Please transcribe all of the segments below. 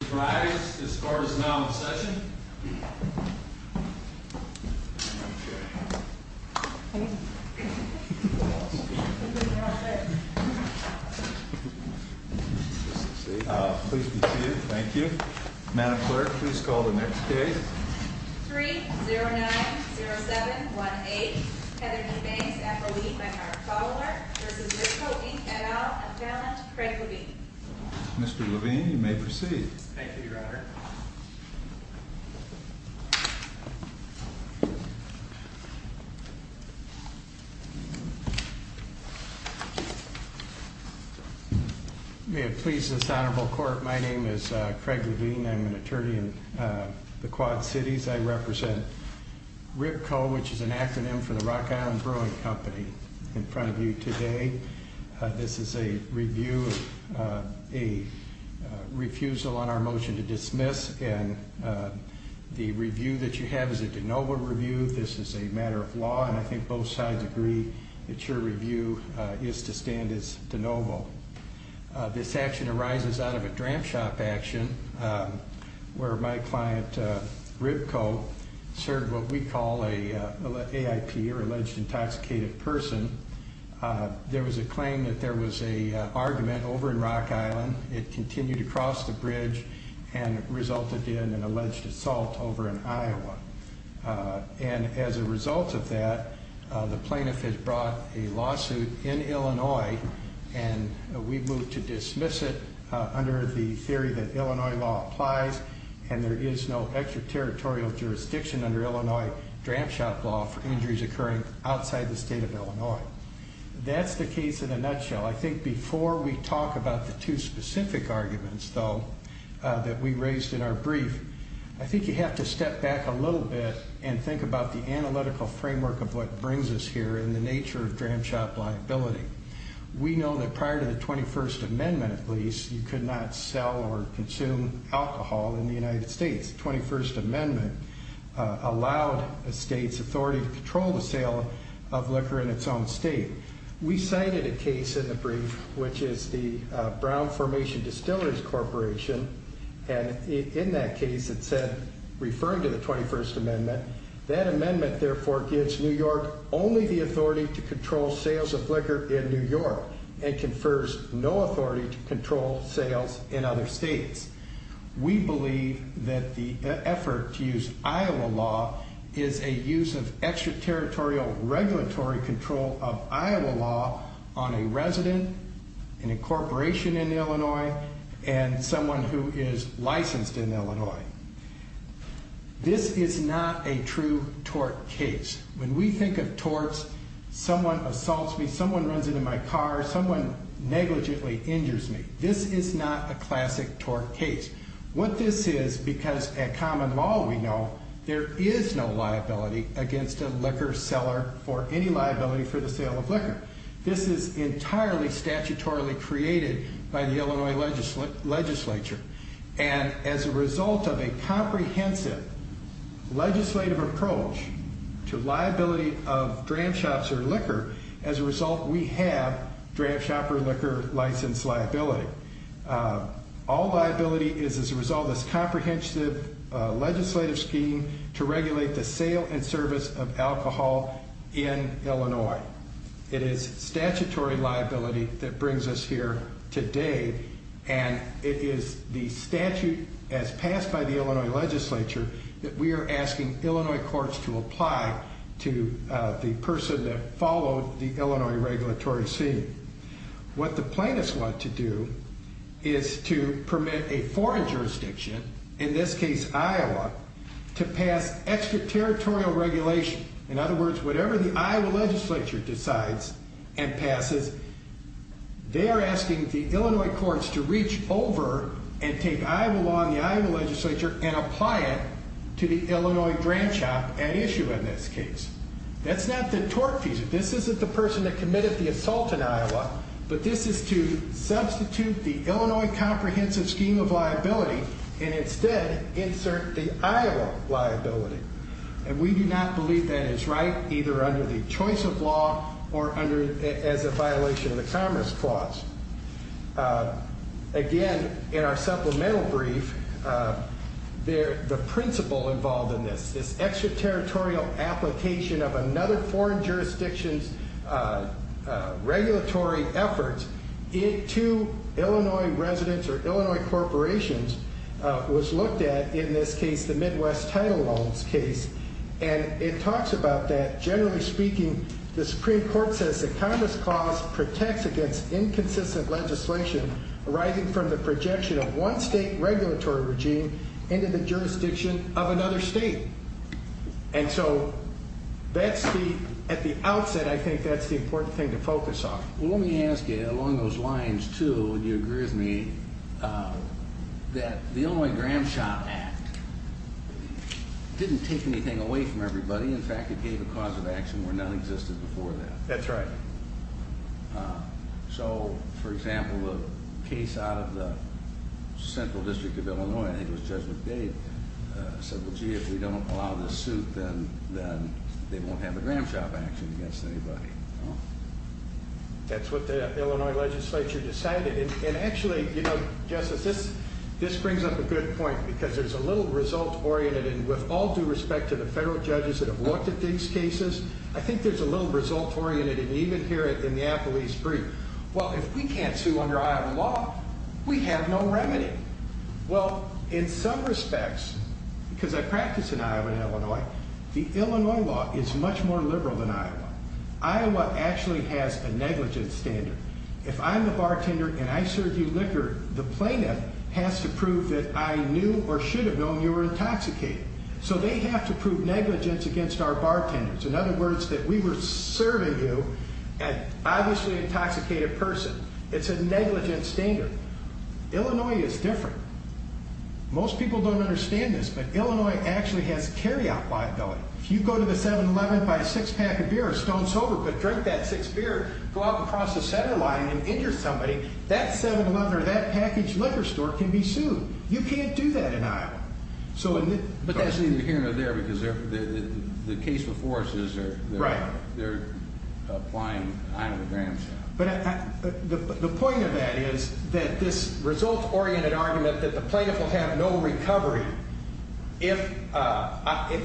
All rise, the scorer is now in session. Okay. Please be seated, thank you. Madam Clerk, please call the next case. 3-090718, Heather D. Banks, approved by our follower, Mrs. Misko E. et al., of Talent, Craig Levine. Mr. Levine, you may proceed. Thank you, Your Honor. May it please this honorable court, my name is Craig Levine, I'm an attorney in the Quad Cities. I represent RIPCO, which is an acronym for the Rock Island Brewing Company, in front of you today. This is a review, a refusal on our motion to dismiss, and the review that you have is a de novo review, this is a matter of law, and I think both sides agree that your review is to stand as de novo. This action arises out of a dram shop action, where my client, RIPCO, served what we call a AIP, or Alleged Intoxicated Person. There was a claim that there was a argument over in Rock Island, it continued across the bridge, and resulted in an alleged assault over in Iowa. And as a result of that, the plaintiff has brought a lawsuit in Illinois, and we've moved to dismiss it under the theory that Illinois law applies, and there is no extraterritorial jurisdiction under Illinois dram shop law for injuries occurring outside the state of Illinois. That's the case in a nutshell. I think before we talk about the two specific arguments, though, that we raised in our brief, I think you have to step back a little bit and think about the analytical framework of what brings us here, and the nature of dram shop liability. We know that prior to the 21st Amendment, at least, you could not sell or consume alcohol in the United States. The 21st Amendment allowed a state's authority to control the sale of liquor in its own state. We cited a case in the brief, which is the Brown Formation Distillers Corporation, and in that case, it said, referring to the 21st Amendment, that amendment, therefore, gives New York only the authority to control sales of liquor in New York, and confers no authority to control sales in other states. We believe that the effort to use Iowa law is a use of extraterritorial regulatory control of Iowa law on a resident, an incorporation in Illinois, and someone who is licensed in Illinois. This is not a true tort case. When we think of torts, someone assaults me, someone runs into my car, someone negligently injures me. This is not a classic tort case. What this is, because at common law, we know, there is no liability against a liquor seller for any liability for the sale of liquor. This is entirely statutorily created by the Illinois legislature, and as a result of a comprehensive legislative approach to liability of dram shops or liquor, as a result, we have dram shop or liquor license liability. All liability is as a result of this comprehensive legislative scheme to regulate the sale and service of alcohol in Illinois. It is statutory liability that brings us here today, and it is the statute as passed by the Illinois legislature that we are asking Illinois courts to apply to the person that followed the Illinois regulatory scene. What the plaintiffs want to do is to permit a foreign jurisdiction, in this case, Iowa, to pass extraterritorial regulation. In other words, whatever the Iowa legislature decides and passes, they are asking the Illinois courts to reach over and take Iowa law and the Iowa legislature and apply it to the Illinois dram shop at issue in this case. That's not the tort piece. This isn't the person that committed the assault in Iowa, but this is to substitute the Illinois comprehensive scheme of liability and instead insert the Iowa liability, and we do not believe that is right, either under the choice of law or as a violation of the Commerce Clause. Again, in our supplemental brief, the principle involved in this, this extraterritorial application of another foreign jurisdiction's regulatory efforts into Illinois residents or Illinois corporations was looked at in this case, the Midwest Title Loans case, and it talks about that, generally speaking, the Supreme Court says the Commerce Clause protects against inconsistent legislation arising from the projection of one state regulatory regime into the jurisdiction of another state. And so, that's the, at the outset, I think that's the important thing to focus on. Well, let me ask you, along those lines, too, would you agree with me that the Illinois Dram Shop Act didn't take anything away from everybody. In fact, it gave a cause of action where none existed before that. That's right. So, for example, the case out of the Central District of Illinois, I think it was Judge McDade, said, well, gee, if we don't allow this suit, then they won't have a Dram Shop action against anybody. That's what the Illinois legislature decided. And actually, you know, Justice, this brings up a good point, because there's a little result-oriented, and with all due respect to the federal judges that have looked at these cases, I think there's a little result-oriented, and even here in the Appalachee Street. Well, if we can't sue under Iowa law, we have no remedy. Well, in some respects, because I practice in Iowa and Illinois, the Illinois law is much more liberal than Iowa. Iowa actually has a negligence standard. If I'm the bartender and I serve you liquor, the plaintiff has to prove that I knew or should have known you were intoxicated. So they have to prove negligence against our bartenders. In other words, that we were serving you an obviously intoxicated person. It's a negligence standard. Illinois is different. Most people don't understand this, but Illinois actually has carry-out liability. If you go to the 7-Eleven, buy a six-pack of beer, or a stone sober, but drink that six beer, go out and cross the center line and injure somebody, that 7-Eleven or that packaged liquor store can be sued. You can't do that in Iowa. So in the- But that's either here or there, because the case before us is they're- Right. They're applying out of the grandstand. But the point of that is that this result-oriented argument that the plaintiff will have no recovery if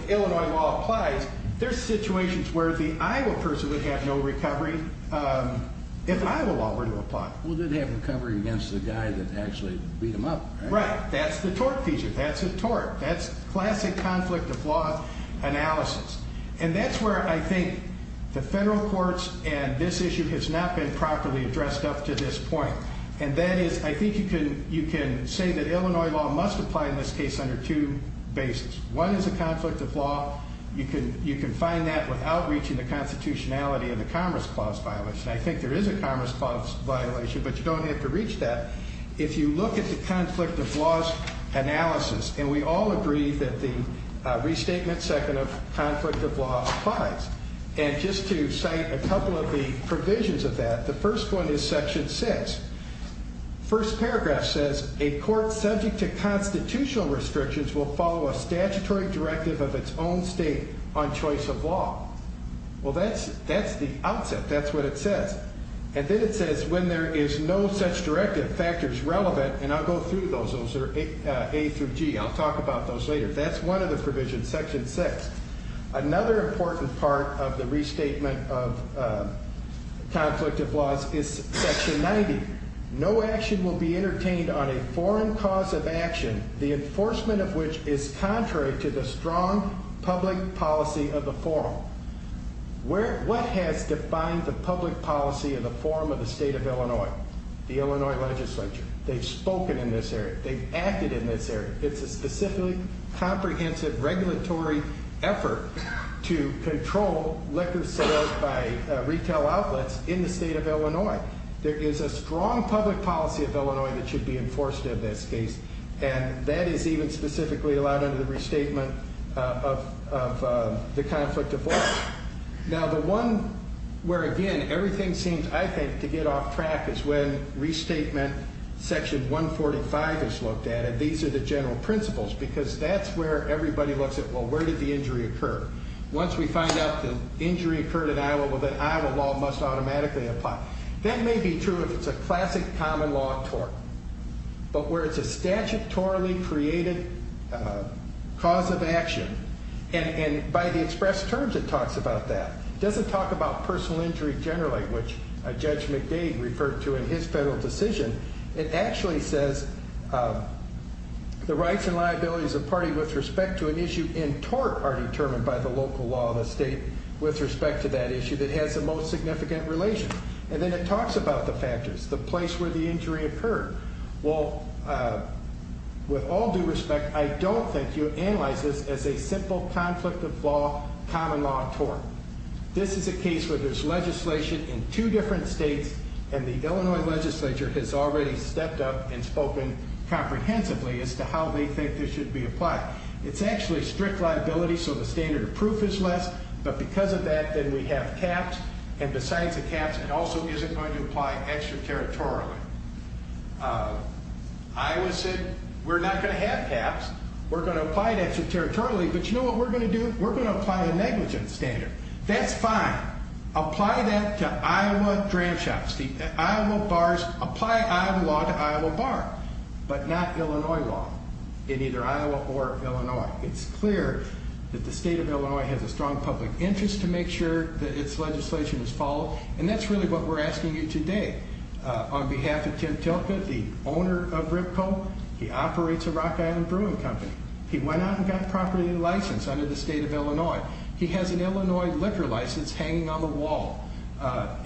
Illinois law applies, there's situations where the Iowa person would have no recovery if Iowa law were to apply. Well, they'd have recovery against the guy that actually beat him up, right? Right, that's the tort feature. That's a tort. That's classic conflict of law analysis. And that's where I think the federal courts and this issue has not been properly addressed up to this point. And that is, I think you can say that Illinois law must apply in this case under two bases. One is a conflict of law. You can find that without reaching the constitutionality of the Commerce Clause violation. I think there is a Commerce Clause violation, but you don't have to reach that. If you look at the conflict of laws analysis, and we all agree that the restatement second of conflict of law applies. And just to cite a couple of the provisions of that, the first one is section six. First paragraph says, a court subject to constitutional restrictions will follow a statutory directive of its own state on choice of law. Well, that's the outset. That's what it says. And then it says when there is no such directive factors relevant, and I'll go through those. Those are A through G. I'll talk about those later. That's one of the provisions, section six. Another important part of the restatement of conflict of laws is section 90. No action will be entertained on a foreign cause of action, the enforcement of which is contrary to the strong public policy of the forum. What has defined the public policy of the forum of the state of Illinois? The Illinois legislature. They've spoken in this area. They've acted in this area. It's a specific comprehensive regulatory effort to control liquor sales by retail outlets in the state of Illinois. There is a strong public policy of Illinois that should be enforced in this case. And that is even specifically allowed under the restatement of the conflict of laws. Now, the one where, again, everything seems, I think, to get off track is when restatement section 145 is looked at. These are the general principles, because that's where everybody looks at, well, where did the injury occur? Once we find out the injury occurred in Iowa, well, then Iowa law must automatically apply. That may be true if it's a classic common law tort, but where it's a statutorily created cause of action. And by the expressed terms, it talks about that. It doesn't talk about personal injury generally, which Judge McDade referred to in his federal decision. It actually says the rights and liabilities of the party with respect to an issue in tort are determined by the local law of the state with respect to that issue that has the most significant relation. And then it talks about the factors, the place where the injury occurred. Well, with all due respect, I don't think you analyze this as a simple conflict of law, common law tort. This is a case where there's legislation in two different states, and the Illinois legislature has already stepped up and spoken comprehensively as to how they think this should be applied. It's actually strict liability, so the standard of proof is less, but because of that, then we have caps, and besides the caps, it also isn't going to apply extraterritorially. Iowa said, we're not gonna have caps. We're gonna apply it extraterritorially, but you know what we're gonna do? We're gonna apply a negligence standard. That's fine. Apply that to Iowa dram shops. Iowa bars, apply Iowa law to Iowa bar, but not Illinois law in either Iowa or Illinois. It's clear that the state of Illinois has a strong public interest to make sure that its legislation is followed, and that's really what we're asking you today. On behalf of Tim Tilka, the owner of Ripco, he operates a Rock Island Brewing Company. He went out and got a property license under the state of Illinois. He has an Illinois liquor license hanging on the wall.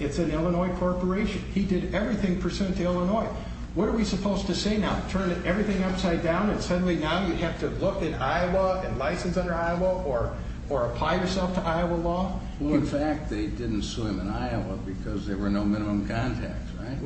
It's an Illinois corporation. He did everything pursuant to Illinois. What are we supposed to say now? Turn everything upside down, and suddenly now you have to look in Iowa and license under Iowa, or apply yourself to Iowa law? Well, in fact, they didn't sue him in Iowa because there were no minimum contacts, right?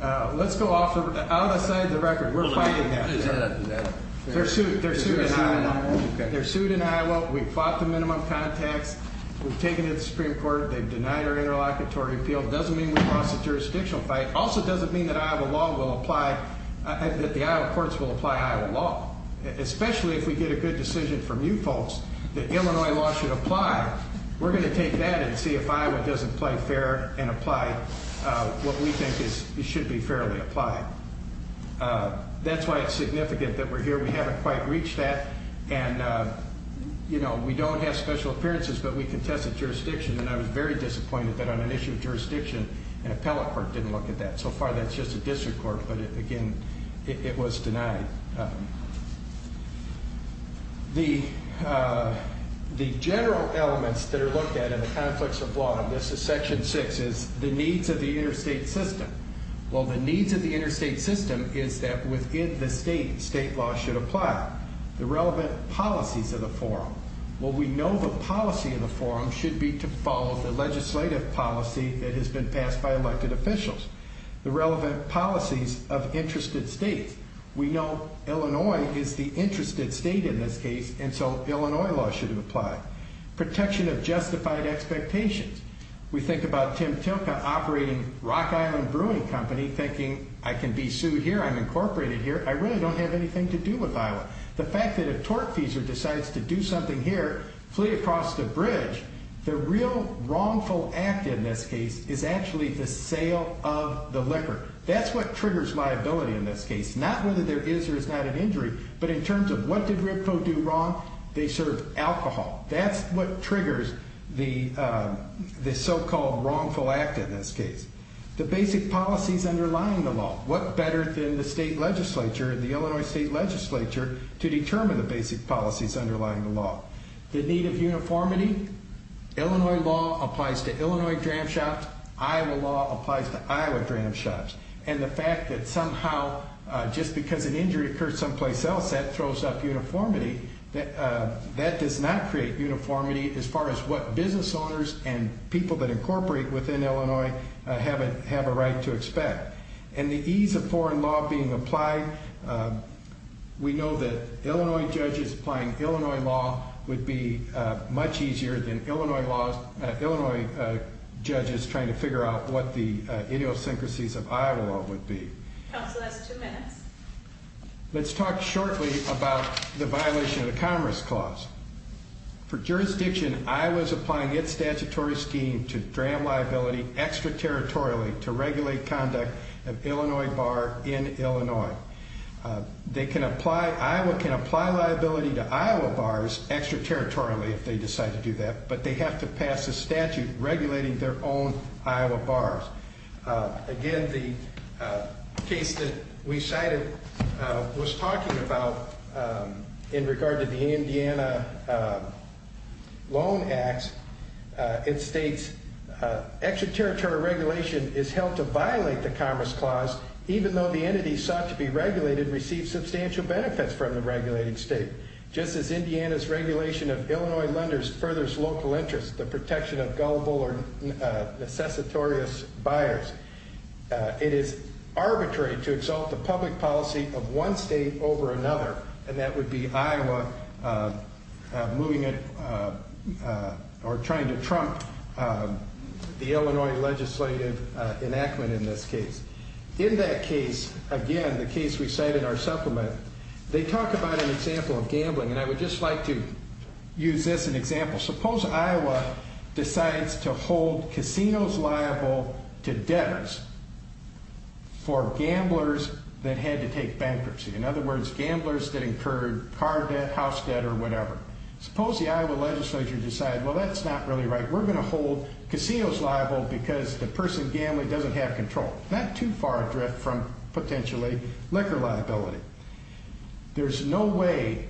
Well, let's go off the, out of sight of the record. We're fighting that. Is that a, is that a? They're sued, they're sued in Iowa. They're sued in Iowa. We fought the minimum contacts. We've taken it to the Supreme Court. They've denied our interlocutory appeal. Doesn't mean we lost the jurisdictional fight. Also doesn't mean that Iowa law will apply, that the Iowa courts will apply Iowa law, especially if we get a good decision from you folks that Illinois law should apply. We're gonna take that and see if Iowa doesn't play fair and apply what we think should be fairly applied. That's why it's significant that we're here. We haven't quite reached that, and, you know, we don't have special appearances, but we contested jurisdiction, and I was very disappointed that on an issue of jurisdiction, an appellate court didn't look at that. So far, that's just a district court, but again, it was denied. The general elements that are looked at in the conflicts of law, and this is section six, is the needs of the interstate system. Well, the needs of the interstate system is that within the state, state law should apply. The relevant policies of the forum. Well, we know the policy of the forum should be to follow the legislative policy that has been passed by elected officials. The relevant policies of interested states. We know Illinois is the interested state in this case, and so Illinois law should apply. Protection of justified expectations. We think about Tim Tilka operating Rock Island Brewing Company thinking, I can be sued here, I'm incorporated here, I really don't have anything to do with Iowa. The fact that a tortfeasor decides to do something here, flee across the bridge, the real wrongful act in this case is actually the sale of the liquor. That's what triggers liability in this case. Not whether there is or is not an injury, but in terms of what did Ripto do wrong? They served alcohol. That's what triggers the so-called wrongful act in this case. The basic policies underlying the law. What better than the state legislature, the Illinois state legislature, to determine the basic policies underlying the law? The need of uniformity. Illinois law applies to Illinois dram shops. Iowa law applies to Iowa dram shops. And the fact that somehow, just because an injury occurred someplace else, that throws up uniformity. That does not create uniformity as far as what business owners and people that incorporate within Illinois have a right to expect. And the ease of foreign law being applied, we know that Illinois judges applying Illinois law would be much easier than Illinois judges trying to figure out what the idiosyncrasies of Iowa law would be. Counsel, that's two minutes. Let's talk shortly about the violation of the Commerce Clause. For jurisdiction, Iowa is applying its statutory scheme to dram liability extraterritorially to regulate conduct of Illinois bar in Illinois. They can apply, Iowa can apply liability to Iowa bars extraterritorially if they decide to do that, but they have to pass a statute regulating their own Iowa bars. Again, the case that we cited was talking about in regard to the Indiana Loan Acts. It states extraterritorial regulation is held to violate the Commerce Clause even though the entities sought to be regulated receive substantial benefits from the regulating state. Just as Indiana's regulation of Illinois lenders furthers local interest, the protection of gullible or necessitorious buyers, it is arbitrary to exalt the public policy of one state over another, and that would be Iowa moving it, or trying to trump the Illinois legislative enactment in this case. In that case, again, the case we cite in our supplement, they talk about an example of gambling, and I would just like to use this an example. Suppose Iowa decides to hold casinos liable to debtors for gamblers that had to take bankruptcy. In other words, gamblers that incurred car debt, house debt, or whatever. Suppose the Iowa legislature decide, well, that's not really right. We're gonna hold casinos liable because the person gambling doesn't have control. Not too far adrift from potentially liquor liability. There's no way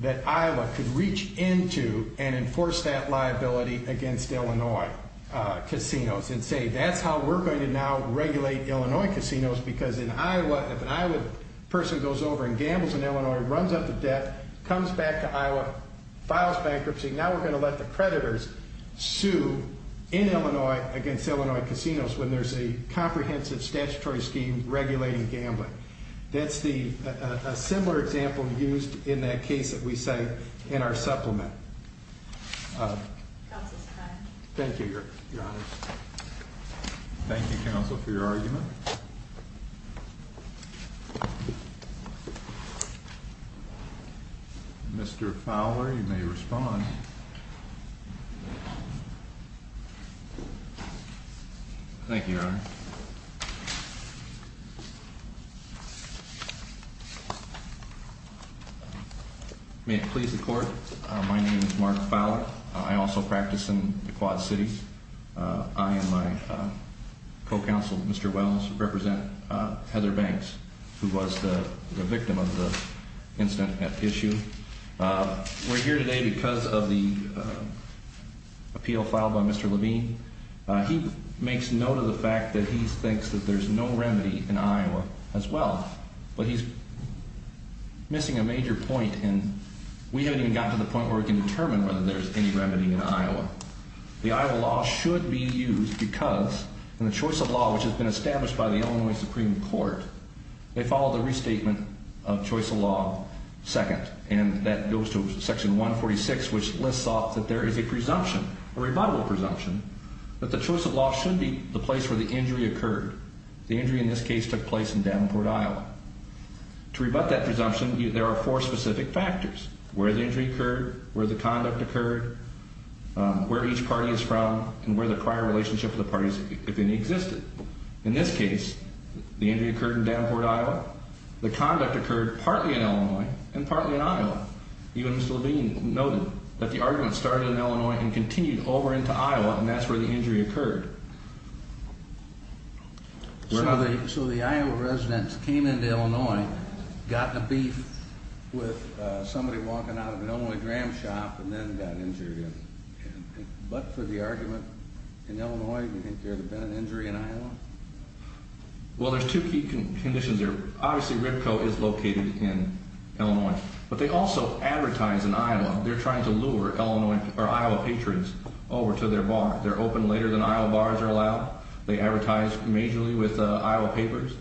that Iowa could reach into and enforce that liability against Illinois casinos, and say that's how we're going to now regulate Illinois casinos, because if an Iowa person goes over and gambles in Illinois, runs up to debt, comes back to Iowa, files bankruptcy, now we're gonna let the creditors sue in Illinois against Illinois casinos when there's a comprehensive statutory scheme regulating gambling. That's a similar example used in that case that we cite in our supplement. Councilor Kline. Thank you, Your Honors. Thank you, Council, for your argument. Mr. Fowler, you may respond. Thank you, Your Honor. May it please the Court, my name is Mark Fowler. I also practice in the Quad Cities. I and my co-counsel, Mr. Wells, represent Heather Banks, who was the victim of the incident at issue. We're here today because of the appeal filed by Mr. Levine. He makes note of the fact that he thinks that there's no remedy in Iowa as well, but he's missing a major point, and we haven't even gotten to the point where we can determine whether there's any remedy in Iowa. The Iowa law should be used because, in the choice of law which has been established by the Illinois Supreme Court, they follow the restatement of choice of law second, and that goes to section 146, which lists off that there is a presumption, a rebuttable presumption, that the choice of law should be the place where the injury occurred. The injury, in this case, took place in Davenport, Iowa. To rebut that presumption, there are four specific factors, where the injury occurred, where the conduct occurred, where each party is from, and where the prior relationship with the parties, if any, existed. In this case, the injury occurred in Davenport, Iowa. The conduct occurred partly in Illinois, and partly in Iowa. Even Mr. Levine noted that the argument started in Illinois and continued over into Iowa, and that's where the injury occurred. So the Iowa residents came into Illinois, got in a beef with somebody walking out But for the argument in Illinois, do you think there would have been an injury in Iowa? Well, there's two key conditions there. Obviously, Ripco is located in Illinois, but they also advertise in Iowa. They're trying to lure Iowa patrons over to their bar. They're open later than Iowa bars are allowed. They advertise majorly with Iowa papers.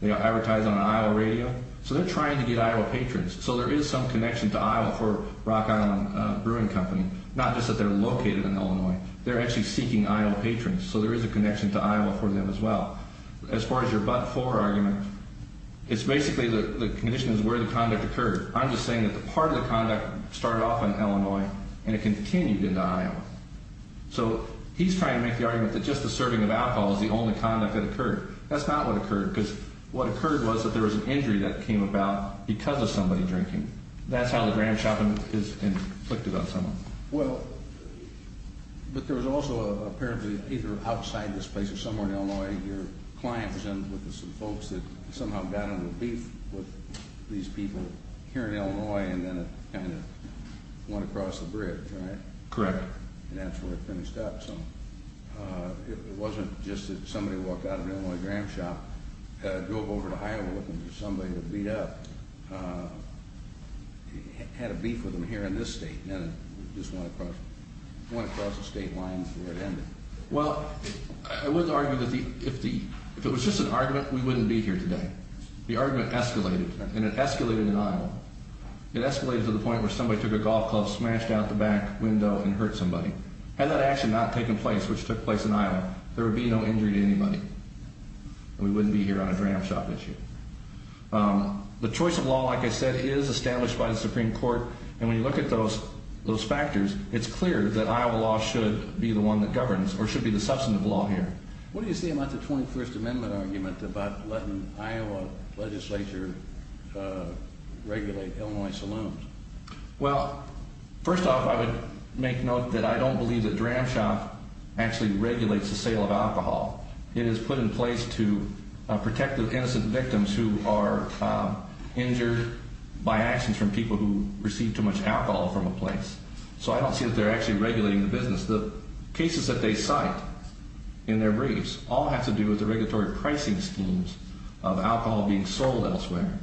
They advertise on an Iowa radio. So they're trying to get Iowa patrons. So there is some connection to Iowa for Rock Island Brewing Company, not just that they're located in Illinois. They're actually seeking Iowa patrons, so there is a connection to Iowa for them as well. As far as your but-for argument, it's basically the condition is where the conduct occurred. I'm just saying that the part of the conduct started off in Illinois and it continued into Iowa. So he's trying to make the argument that just a serving of alcohol is the only conduct that occurred. That's not what occurred, because what occurred was that there was an injury that came about because of somebody drinking. That's how the grand shopping is inflicted on someone. Well, but there was also apparently either outside this place or somewhere in Illinois, your client was in with some folks that somehow got into a beef with these people here in Illinois and then it kind of went across the bridge, right? Correct. And that's where it finished up. So it wasn't just that somebody walked out of an Illinois grand shop, drove over to Iowa looking for somebody to beat up. Had a beef with them here in this state, and then it just went across the state line and that's where it ended. Well, I would argue that if it was just an argument, we wouldn't be here today. The argument escalated and it escalated in Iowa. It escalated to the point where somebody took a golf club, smashed out the back window and hurt somebody. Had that action not taken place, which took place in Iowa, there would be no injury to anybody. We wouldn't be here on a grand shop issue. The choice of law, like I said, is established by the Supreme Court. And when you look at those factors, it's clear that Iowa law should be the one that governs or should be the substantive law here. What do you say about the 21st Amendment argument about letting Iowa legislature regulate Illinois saloons? Well, first off, I would make note that I don't believe that Dram Shop actually regulates the sale of alcohol. It is put in place to protect the innocent victims who are injured by actions from people who receive too much alcohol from a place. So I don't see that they're actually regulating the business. The cases that they cite in their briefs all have to do with the regulatory pricing schemes of alcohol being sold elsewhere.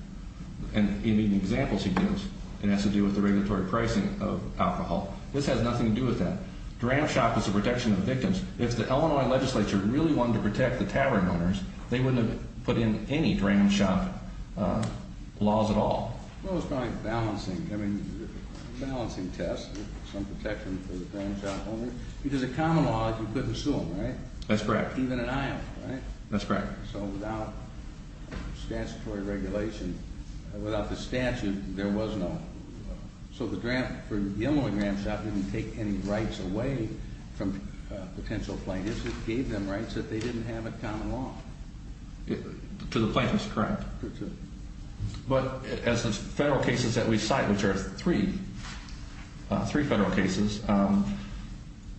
And in the examples he gives, it has to do with the regulatory pricing of alcohol. This has nothing to do with that. Dram Shop is the protection of victims. If the Illinois legislature really wanted to protect the tavern owners, they wouldn't have put in any Dram Shop laws at all. Well, it's probably balancing. I mean, balancing tests, some protection for the Dram Shop owners. Because a common law is you couldn't sue them, right? That's correct. Even in Iowa, right? That's correct. So without statutory regulation, without the statute, there was no. So the Illinois Dram Shop didn't take any rights away from potential plaintiffs. It gave them rights that they didn't have at common law. To the plaintiffs, correct. Correct. But as the federal cases that we cite, which are three federal cases,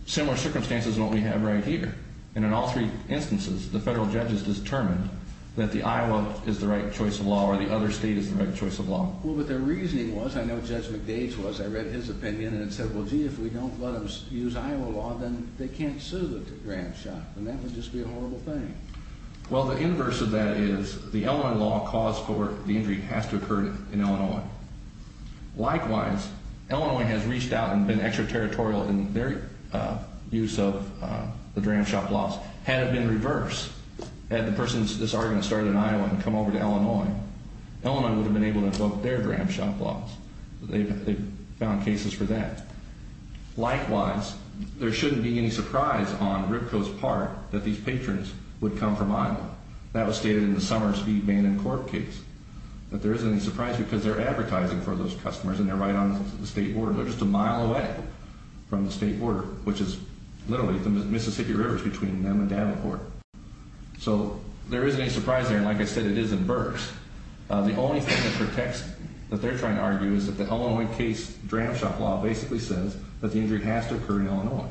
similar circumstances in what we have right here. And in all three instances, the federal judges determined that the Iowa is the right choice of law or the other state is the right choice of law. Well, but their reasoning was, I know Judge McDade's was, I read his opinion and it said, well, gee, if we don't let them use Iowa law, then they can't sue the Dram Shop. And that would just be a horrible thing. Well, the inverse of that is the Illinois law cause for the injury has to occur in Illinois. Likewise, Illinois has reached out and been extraterritorial in their use of the Dram Shop laws. Had it been reversed, had the persons that started in Iowa come over to Illinois, Illinois would have been able to invoke their Dram Shop laws. They've found cases for that. Likewise, there shouldn't be any surprise on Ripko's part that these patrons would come from Iowa. That was stated in the Summer Speedman and Corp case, that there isn't any surprise because they're advertising for those customers and they're right on the state border. They're just a mile away from the state border, which is literally the Mississippi River between them and Davenport. So there isn't any surprise there. And like I said, it is in Burks. The only thing that protects, that they're trying to argue is that the Illinois case Dram Shop law basically says that the injury has to occur in Illinois.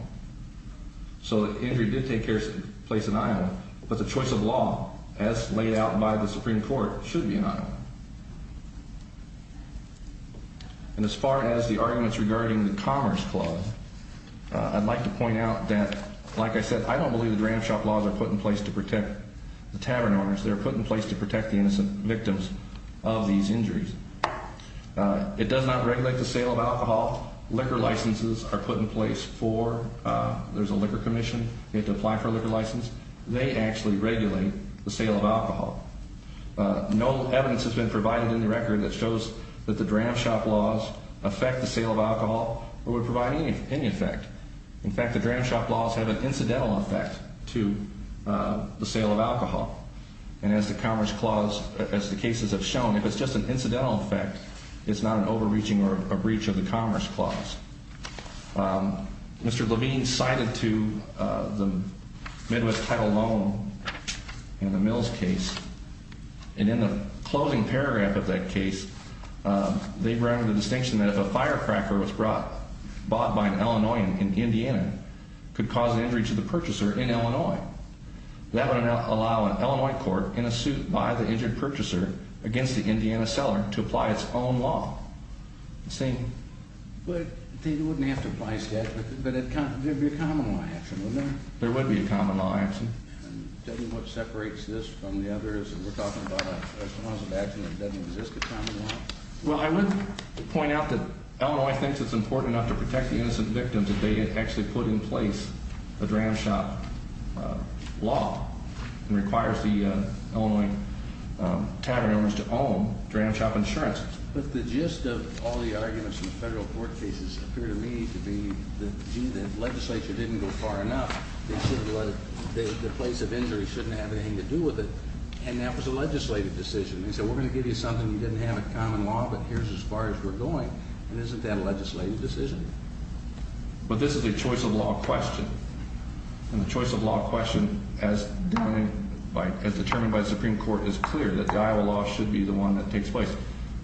So the injury did take place in Iowa, but the choice of law, as laid out by the Supreme Court, should be in Iowa. And as far as the arguments regarding the Commerce Clause, I'd like to point out that, like I said, I don't believe the Dram Shop laws are put in place to protect the tavern owners. They're put in place to protect the innocent victims of these injuries. It does not regulate the sale of alcohol. Liquor licenses are put in place for, there's a liquor commission. You have to apply for a liquor license. They actually regulate the sale of alcohol. No evidence has been provided in the record that shows that the Dram Shop laws affect the sale of alcohol or would provide any effect. In fact, the Dram Shop laws have an incidental effect to the sale of alcohol. And as the Commerce Clause, as the cases have shown, if it's just an incidental effect, it's not an overreaching or a breach of the Commerce Clause. Mr. Levine cited to the Midwest Title Loan in the Mills case. And in the closing paragraph of that case, they ran the distinction that if a firecracker was bought by an Illinoisan in Indiana, it could cause an injury to the purchaser in Illinois. That would allow an Illinois court in a suit by the injured purchaser against the Indiana seller to apply its own law. Saying, well, they wouldn't have to apply statute, but there'd be a common law action, wouldn't there? There would be a common law action. Doesn't what separates this from the others that we're talking about a cause of action that doesn't exist a common law? Well, I would point out that Illinois thinks it's important enough to protect the innocent victims if they actually put in place a Dram Shop law and requires the Illinois tavern owners to own Dram Shop insurance. But the gist of all the arguments in the federal court cases appear to me to be that, gee, the legislature didn't go far enough. They said the place of injury shouldn't have anything to do with it. And that was a legislative decision. They said, we're going to give you something you didn't have a common law, but here's as far as we're going. And isn't that a legislative decision? But this is a choice of law question. And the choice of law question, as determined by the Supreme Court, is clear that the Iowa law should be the one that takes place.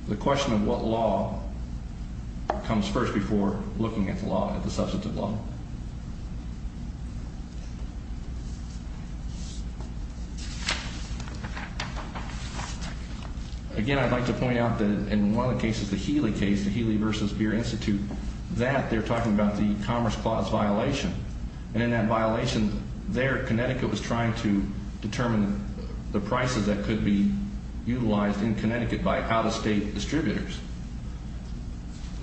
The question of what law comes first before looking at the law, at the substantive law? Again, I'd like to point out that in one of the cases, the Healy case, the Healy v. Beer Institute, that they're talking about the Commerce Clause violation. And in that violation there, Connecticut was trying to determine the prices that could be utilized in Connecticut by out-of-state distributors.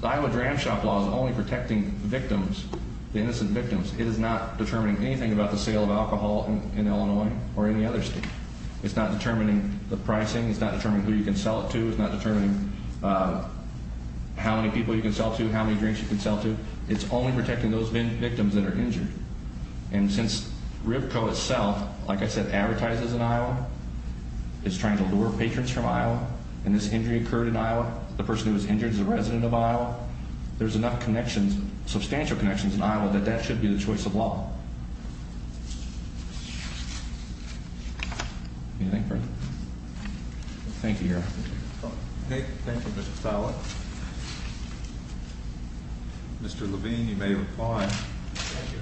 The Iowa Dram Shop Law is only protecting victims, the innocent victims. It is not determining anything about the sale of alcohol in Illinois or any other state. It's not determining the pricing. It's not determining who you can sell it to. It's not determining how many people you can sell to, how many drinks you can sell to. It's only protecting those victims that are injured. advertises in Iowa, is trying to lure patrons from Iowa, and this injury occurred in Iowa. The person who was injured is a resident of Iowa. There's enough connections, substantial connections in Iowa, that that should be the choice of law. Anything further? Thank you, Your Honor. Okay, thank you, Mr. Stilett. Mr. Levine, you may reply. Thank you.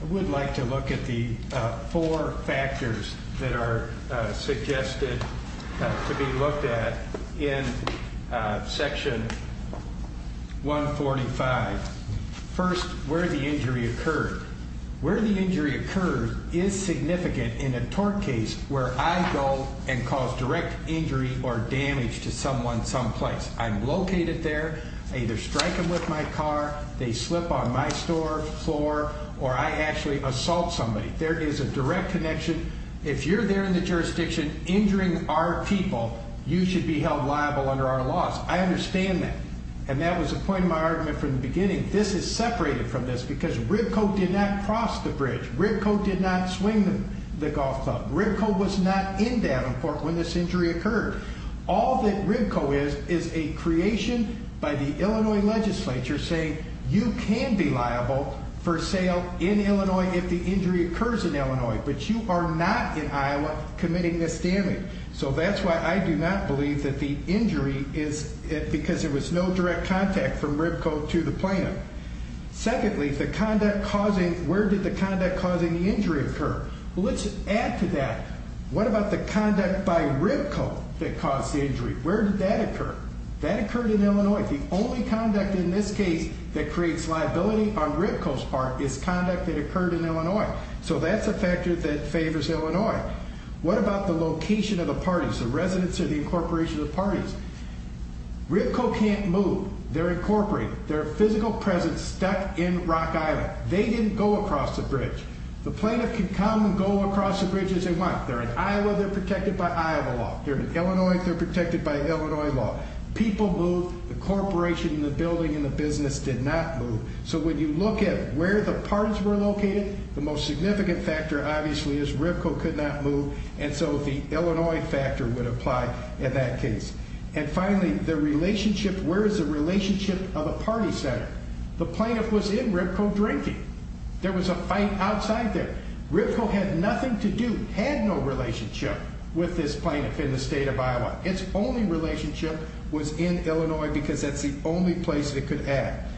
I would like to look at the four factors that are suggested to be looked at in Section 145. First, where the injury occurred. Where the injury occurred is significant in a tort case where I go and cause direct injury or damage to someone someplace. I'm located there. I either strike them with my car, they slip on my store floor, or I actually assault somebody. There is a direct connection. If you're there in the jurisdiction injuring our people, you should be held liable under our laws. I understand that. And that was the point of my argument from the beginning. This is separated from this because RIBCO did not cross the bridge. RIBCO did not swing the golf club. RIBCO was not in Davenport when this injury occurred. All that RIBCO is, is a creation by the Illinois legislature saying you can be liable for sale in Illinois if the injury occurs in Illinois, but you are not in Iowa committing this damage. So that's why I do not believe that the injury is because there was no direct contact from RIBCO to the plaintiff. Secondly, the conduct causing, where did the conduct causing the injury occur? Well, let's add to that. What about the conduct by RIBCO that caused the injury? Where did that occur? That occurred in Illinois. The only conduct in this case that creates liability on RIBCO's part is conduct that occurred in Illinois. So that's a factor that favors Illinois. What about the location of the parties, the residents or the incorporation of the parties? RIBCO can't move. They're incorporated. Their physical presence stuck in Rock Island. They didn't go across the bridge. The plaintiff can come and go across the bridge as they want. They're in Iowa. They're protected by Iowa law. They're in Illinois. They're protected by Illinois law. People moved. The corporation, the building, and the business did not move. So when you look at where the parties were located, the most significant factor, obviously, is RIBCO could not move, and so the Illinois factor would apply in that case. And finally, the relationship, where is the relationship of a party center? The plaintiff was in RIBCO drinking. There was a fight outside there. RIBCO had nothing to do, had no relationship, with this plaintiff in the state of Iowa. Its only relationship was in Illinois because that's the only place it could act.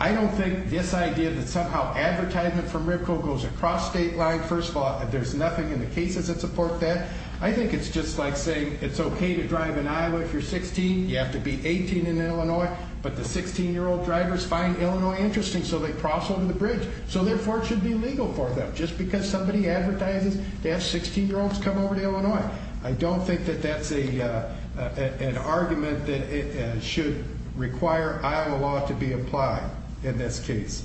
I don't think this idea that somehow advertisement from RIBCO goes across state lines, first of all, there's nothing in the cases that support that. I think it's just like saying it's okay to drive in Iowa if you're 16, you have to be 18 in Illinois, but the 16-year-old drivers find Illinois interesting so they cross over the bridge, so therefore it should be legal for them just because somebody advertises to have 16-year-olds come over to Illinois. I don't think that that's an argument that it should require Iowa law to be applied in this case.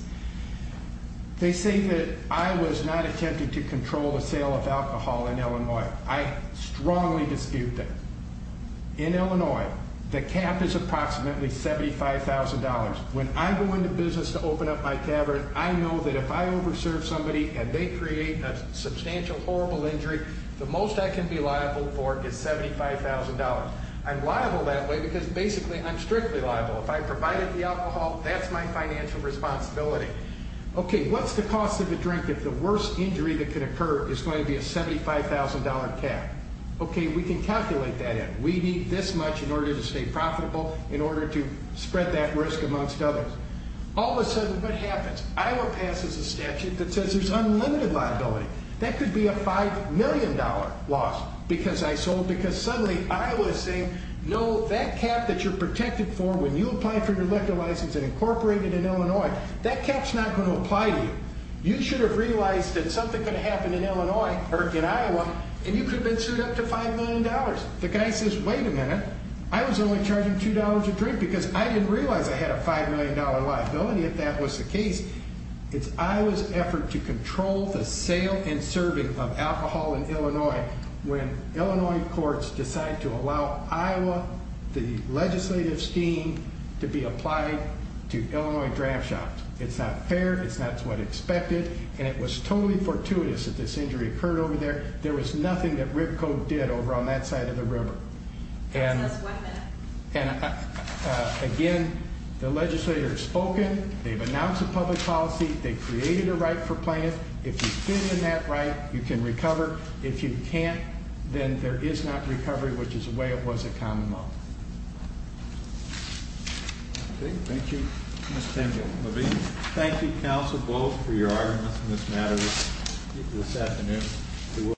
They say that I was not attempting to control the sale of alcohol in Illinois. I strongly dispute that. In Illinois, the cap is approximately $75,000. When I go into business to open up my tavern, I know that if I over-serve somebody and they create a substantial, horrible injury, the most I can be liable for is $75,000. I'm liable that way because basically I'm strictly liable. If I provided the alcohol, that's my financial responsibility. Okay, what's the cost of a drink if the worst injury that could occur is going to be a $75,000 cap? Okay, we can calculate that in. We need this much in order to stay profitable, in order to spread that risk amongst others. All of a sudden, what happens? Iowa passes a statute that says there's unlimited liability. That could be a $5 million loss because I sold, because suddenly Iowa is saying, no, that cap that you're protected for when you apply for your liquor license and incorporate it in Illinois, that cap's not going to apply to you. You should have realized that something could happen in Illinois, or in Iowa, and you could have been sued up to $5 million. The guy says, wait a minute. I was only charging $2 a drink because I didn't realize I had a $5 million liability if that was the case. It's Iowa's effort to control the sale and serving of alcohol in Illinois when Illinois courts decide to allow Iowa, the legislative scheme, to be applied to Illinois draft shops. It's not fair, it's not what expected, and it was totally fortuitous that this injury occurred over there. There was nothing that Ripco did over on that side of the river. And again, the legislators have spoken, they've announced a public policy, they've created a right for plaintiff. If you fit in that right, you can recover. If you can't, then there is not recovery, which is the way it was at Common Law. Thank you. Thank you. Thank you, counsel, both, for your arguments on this matter this afternoon.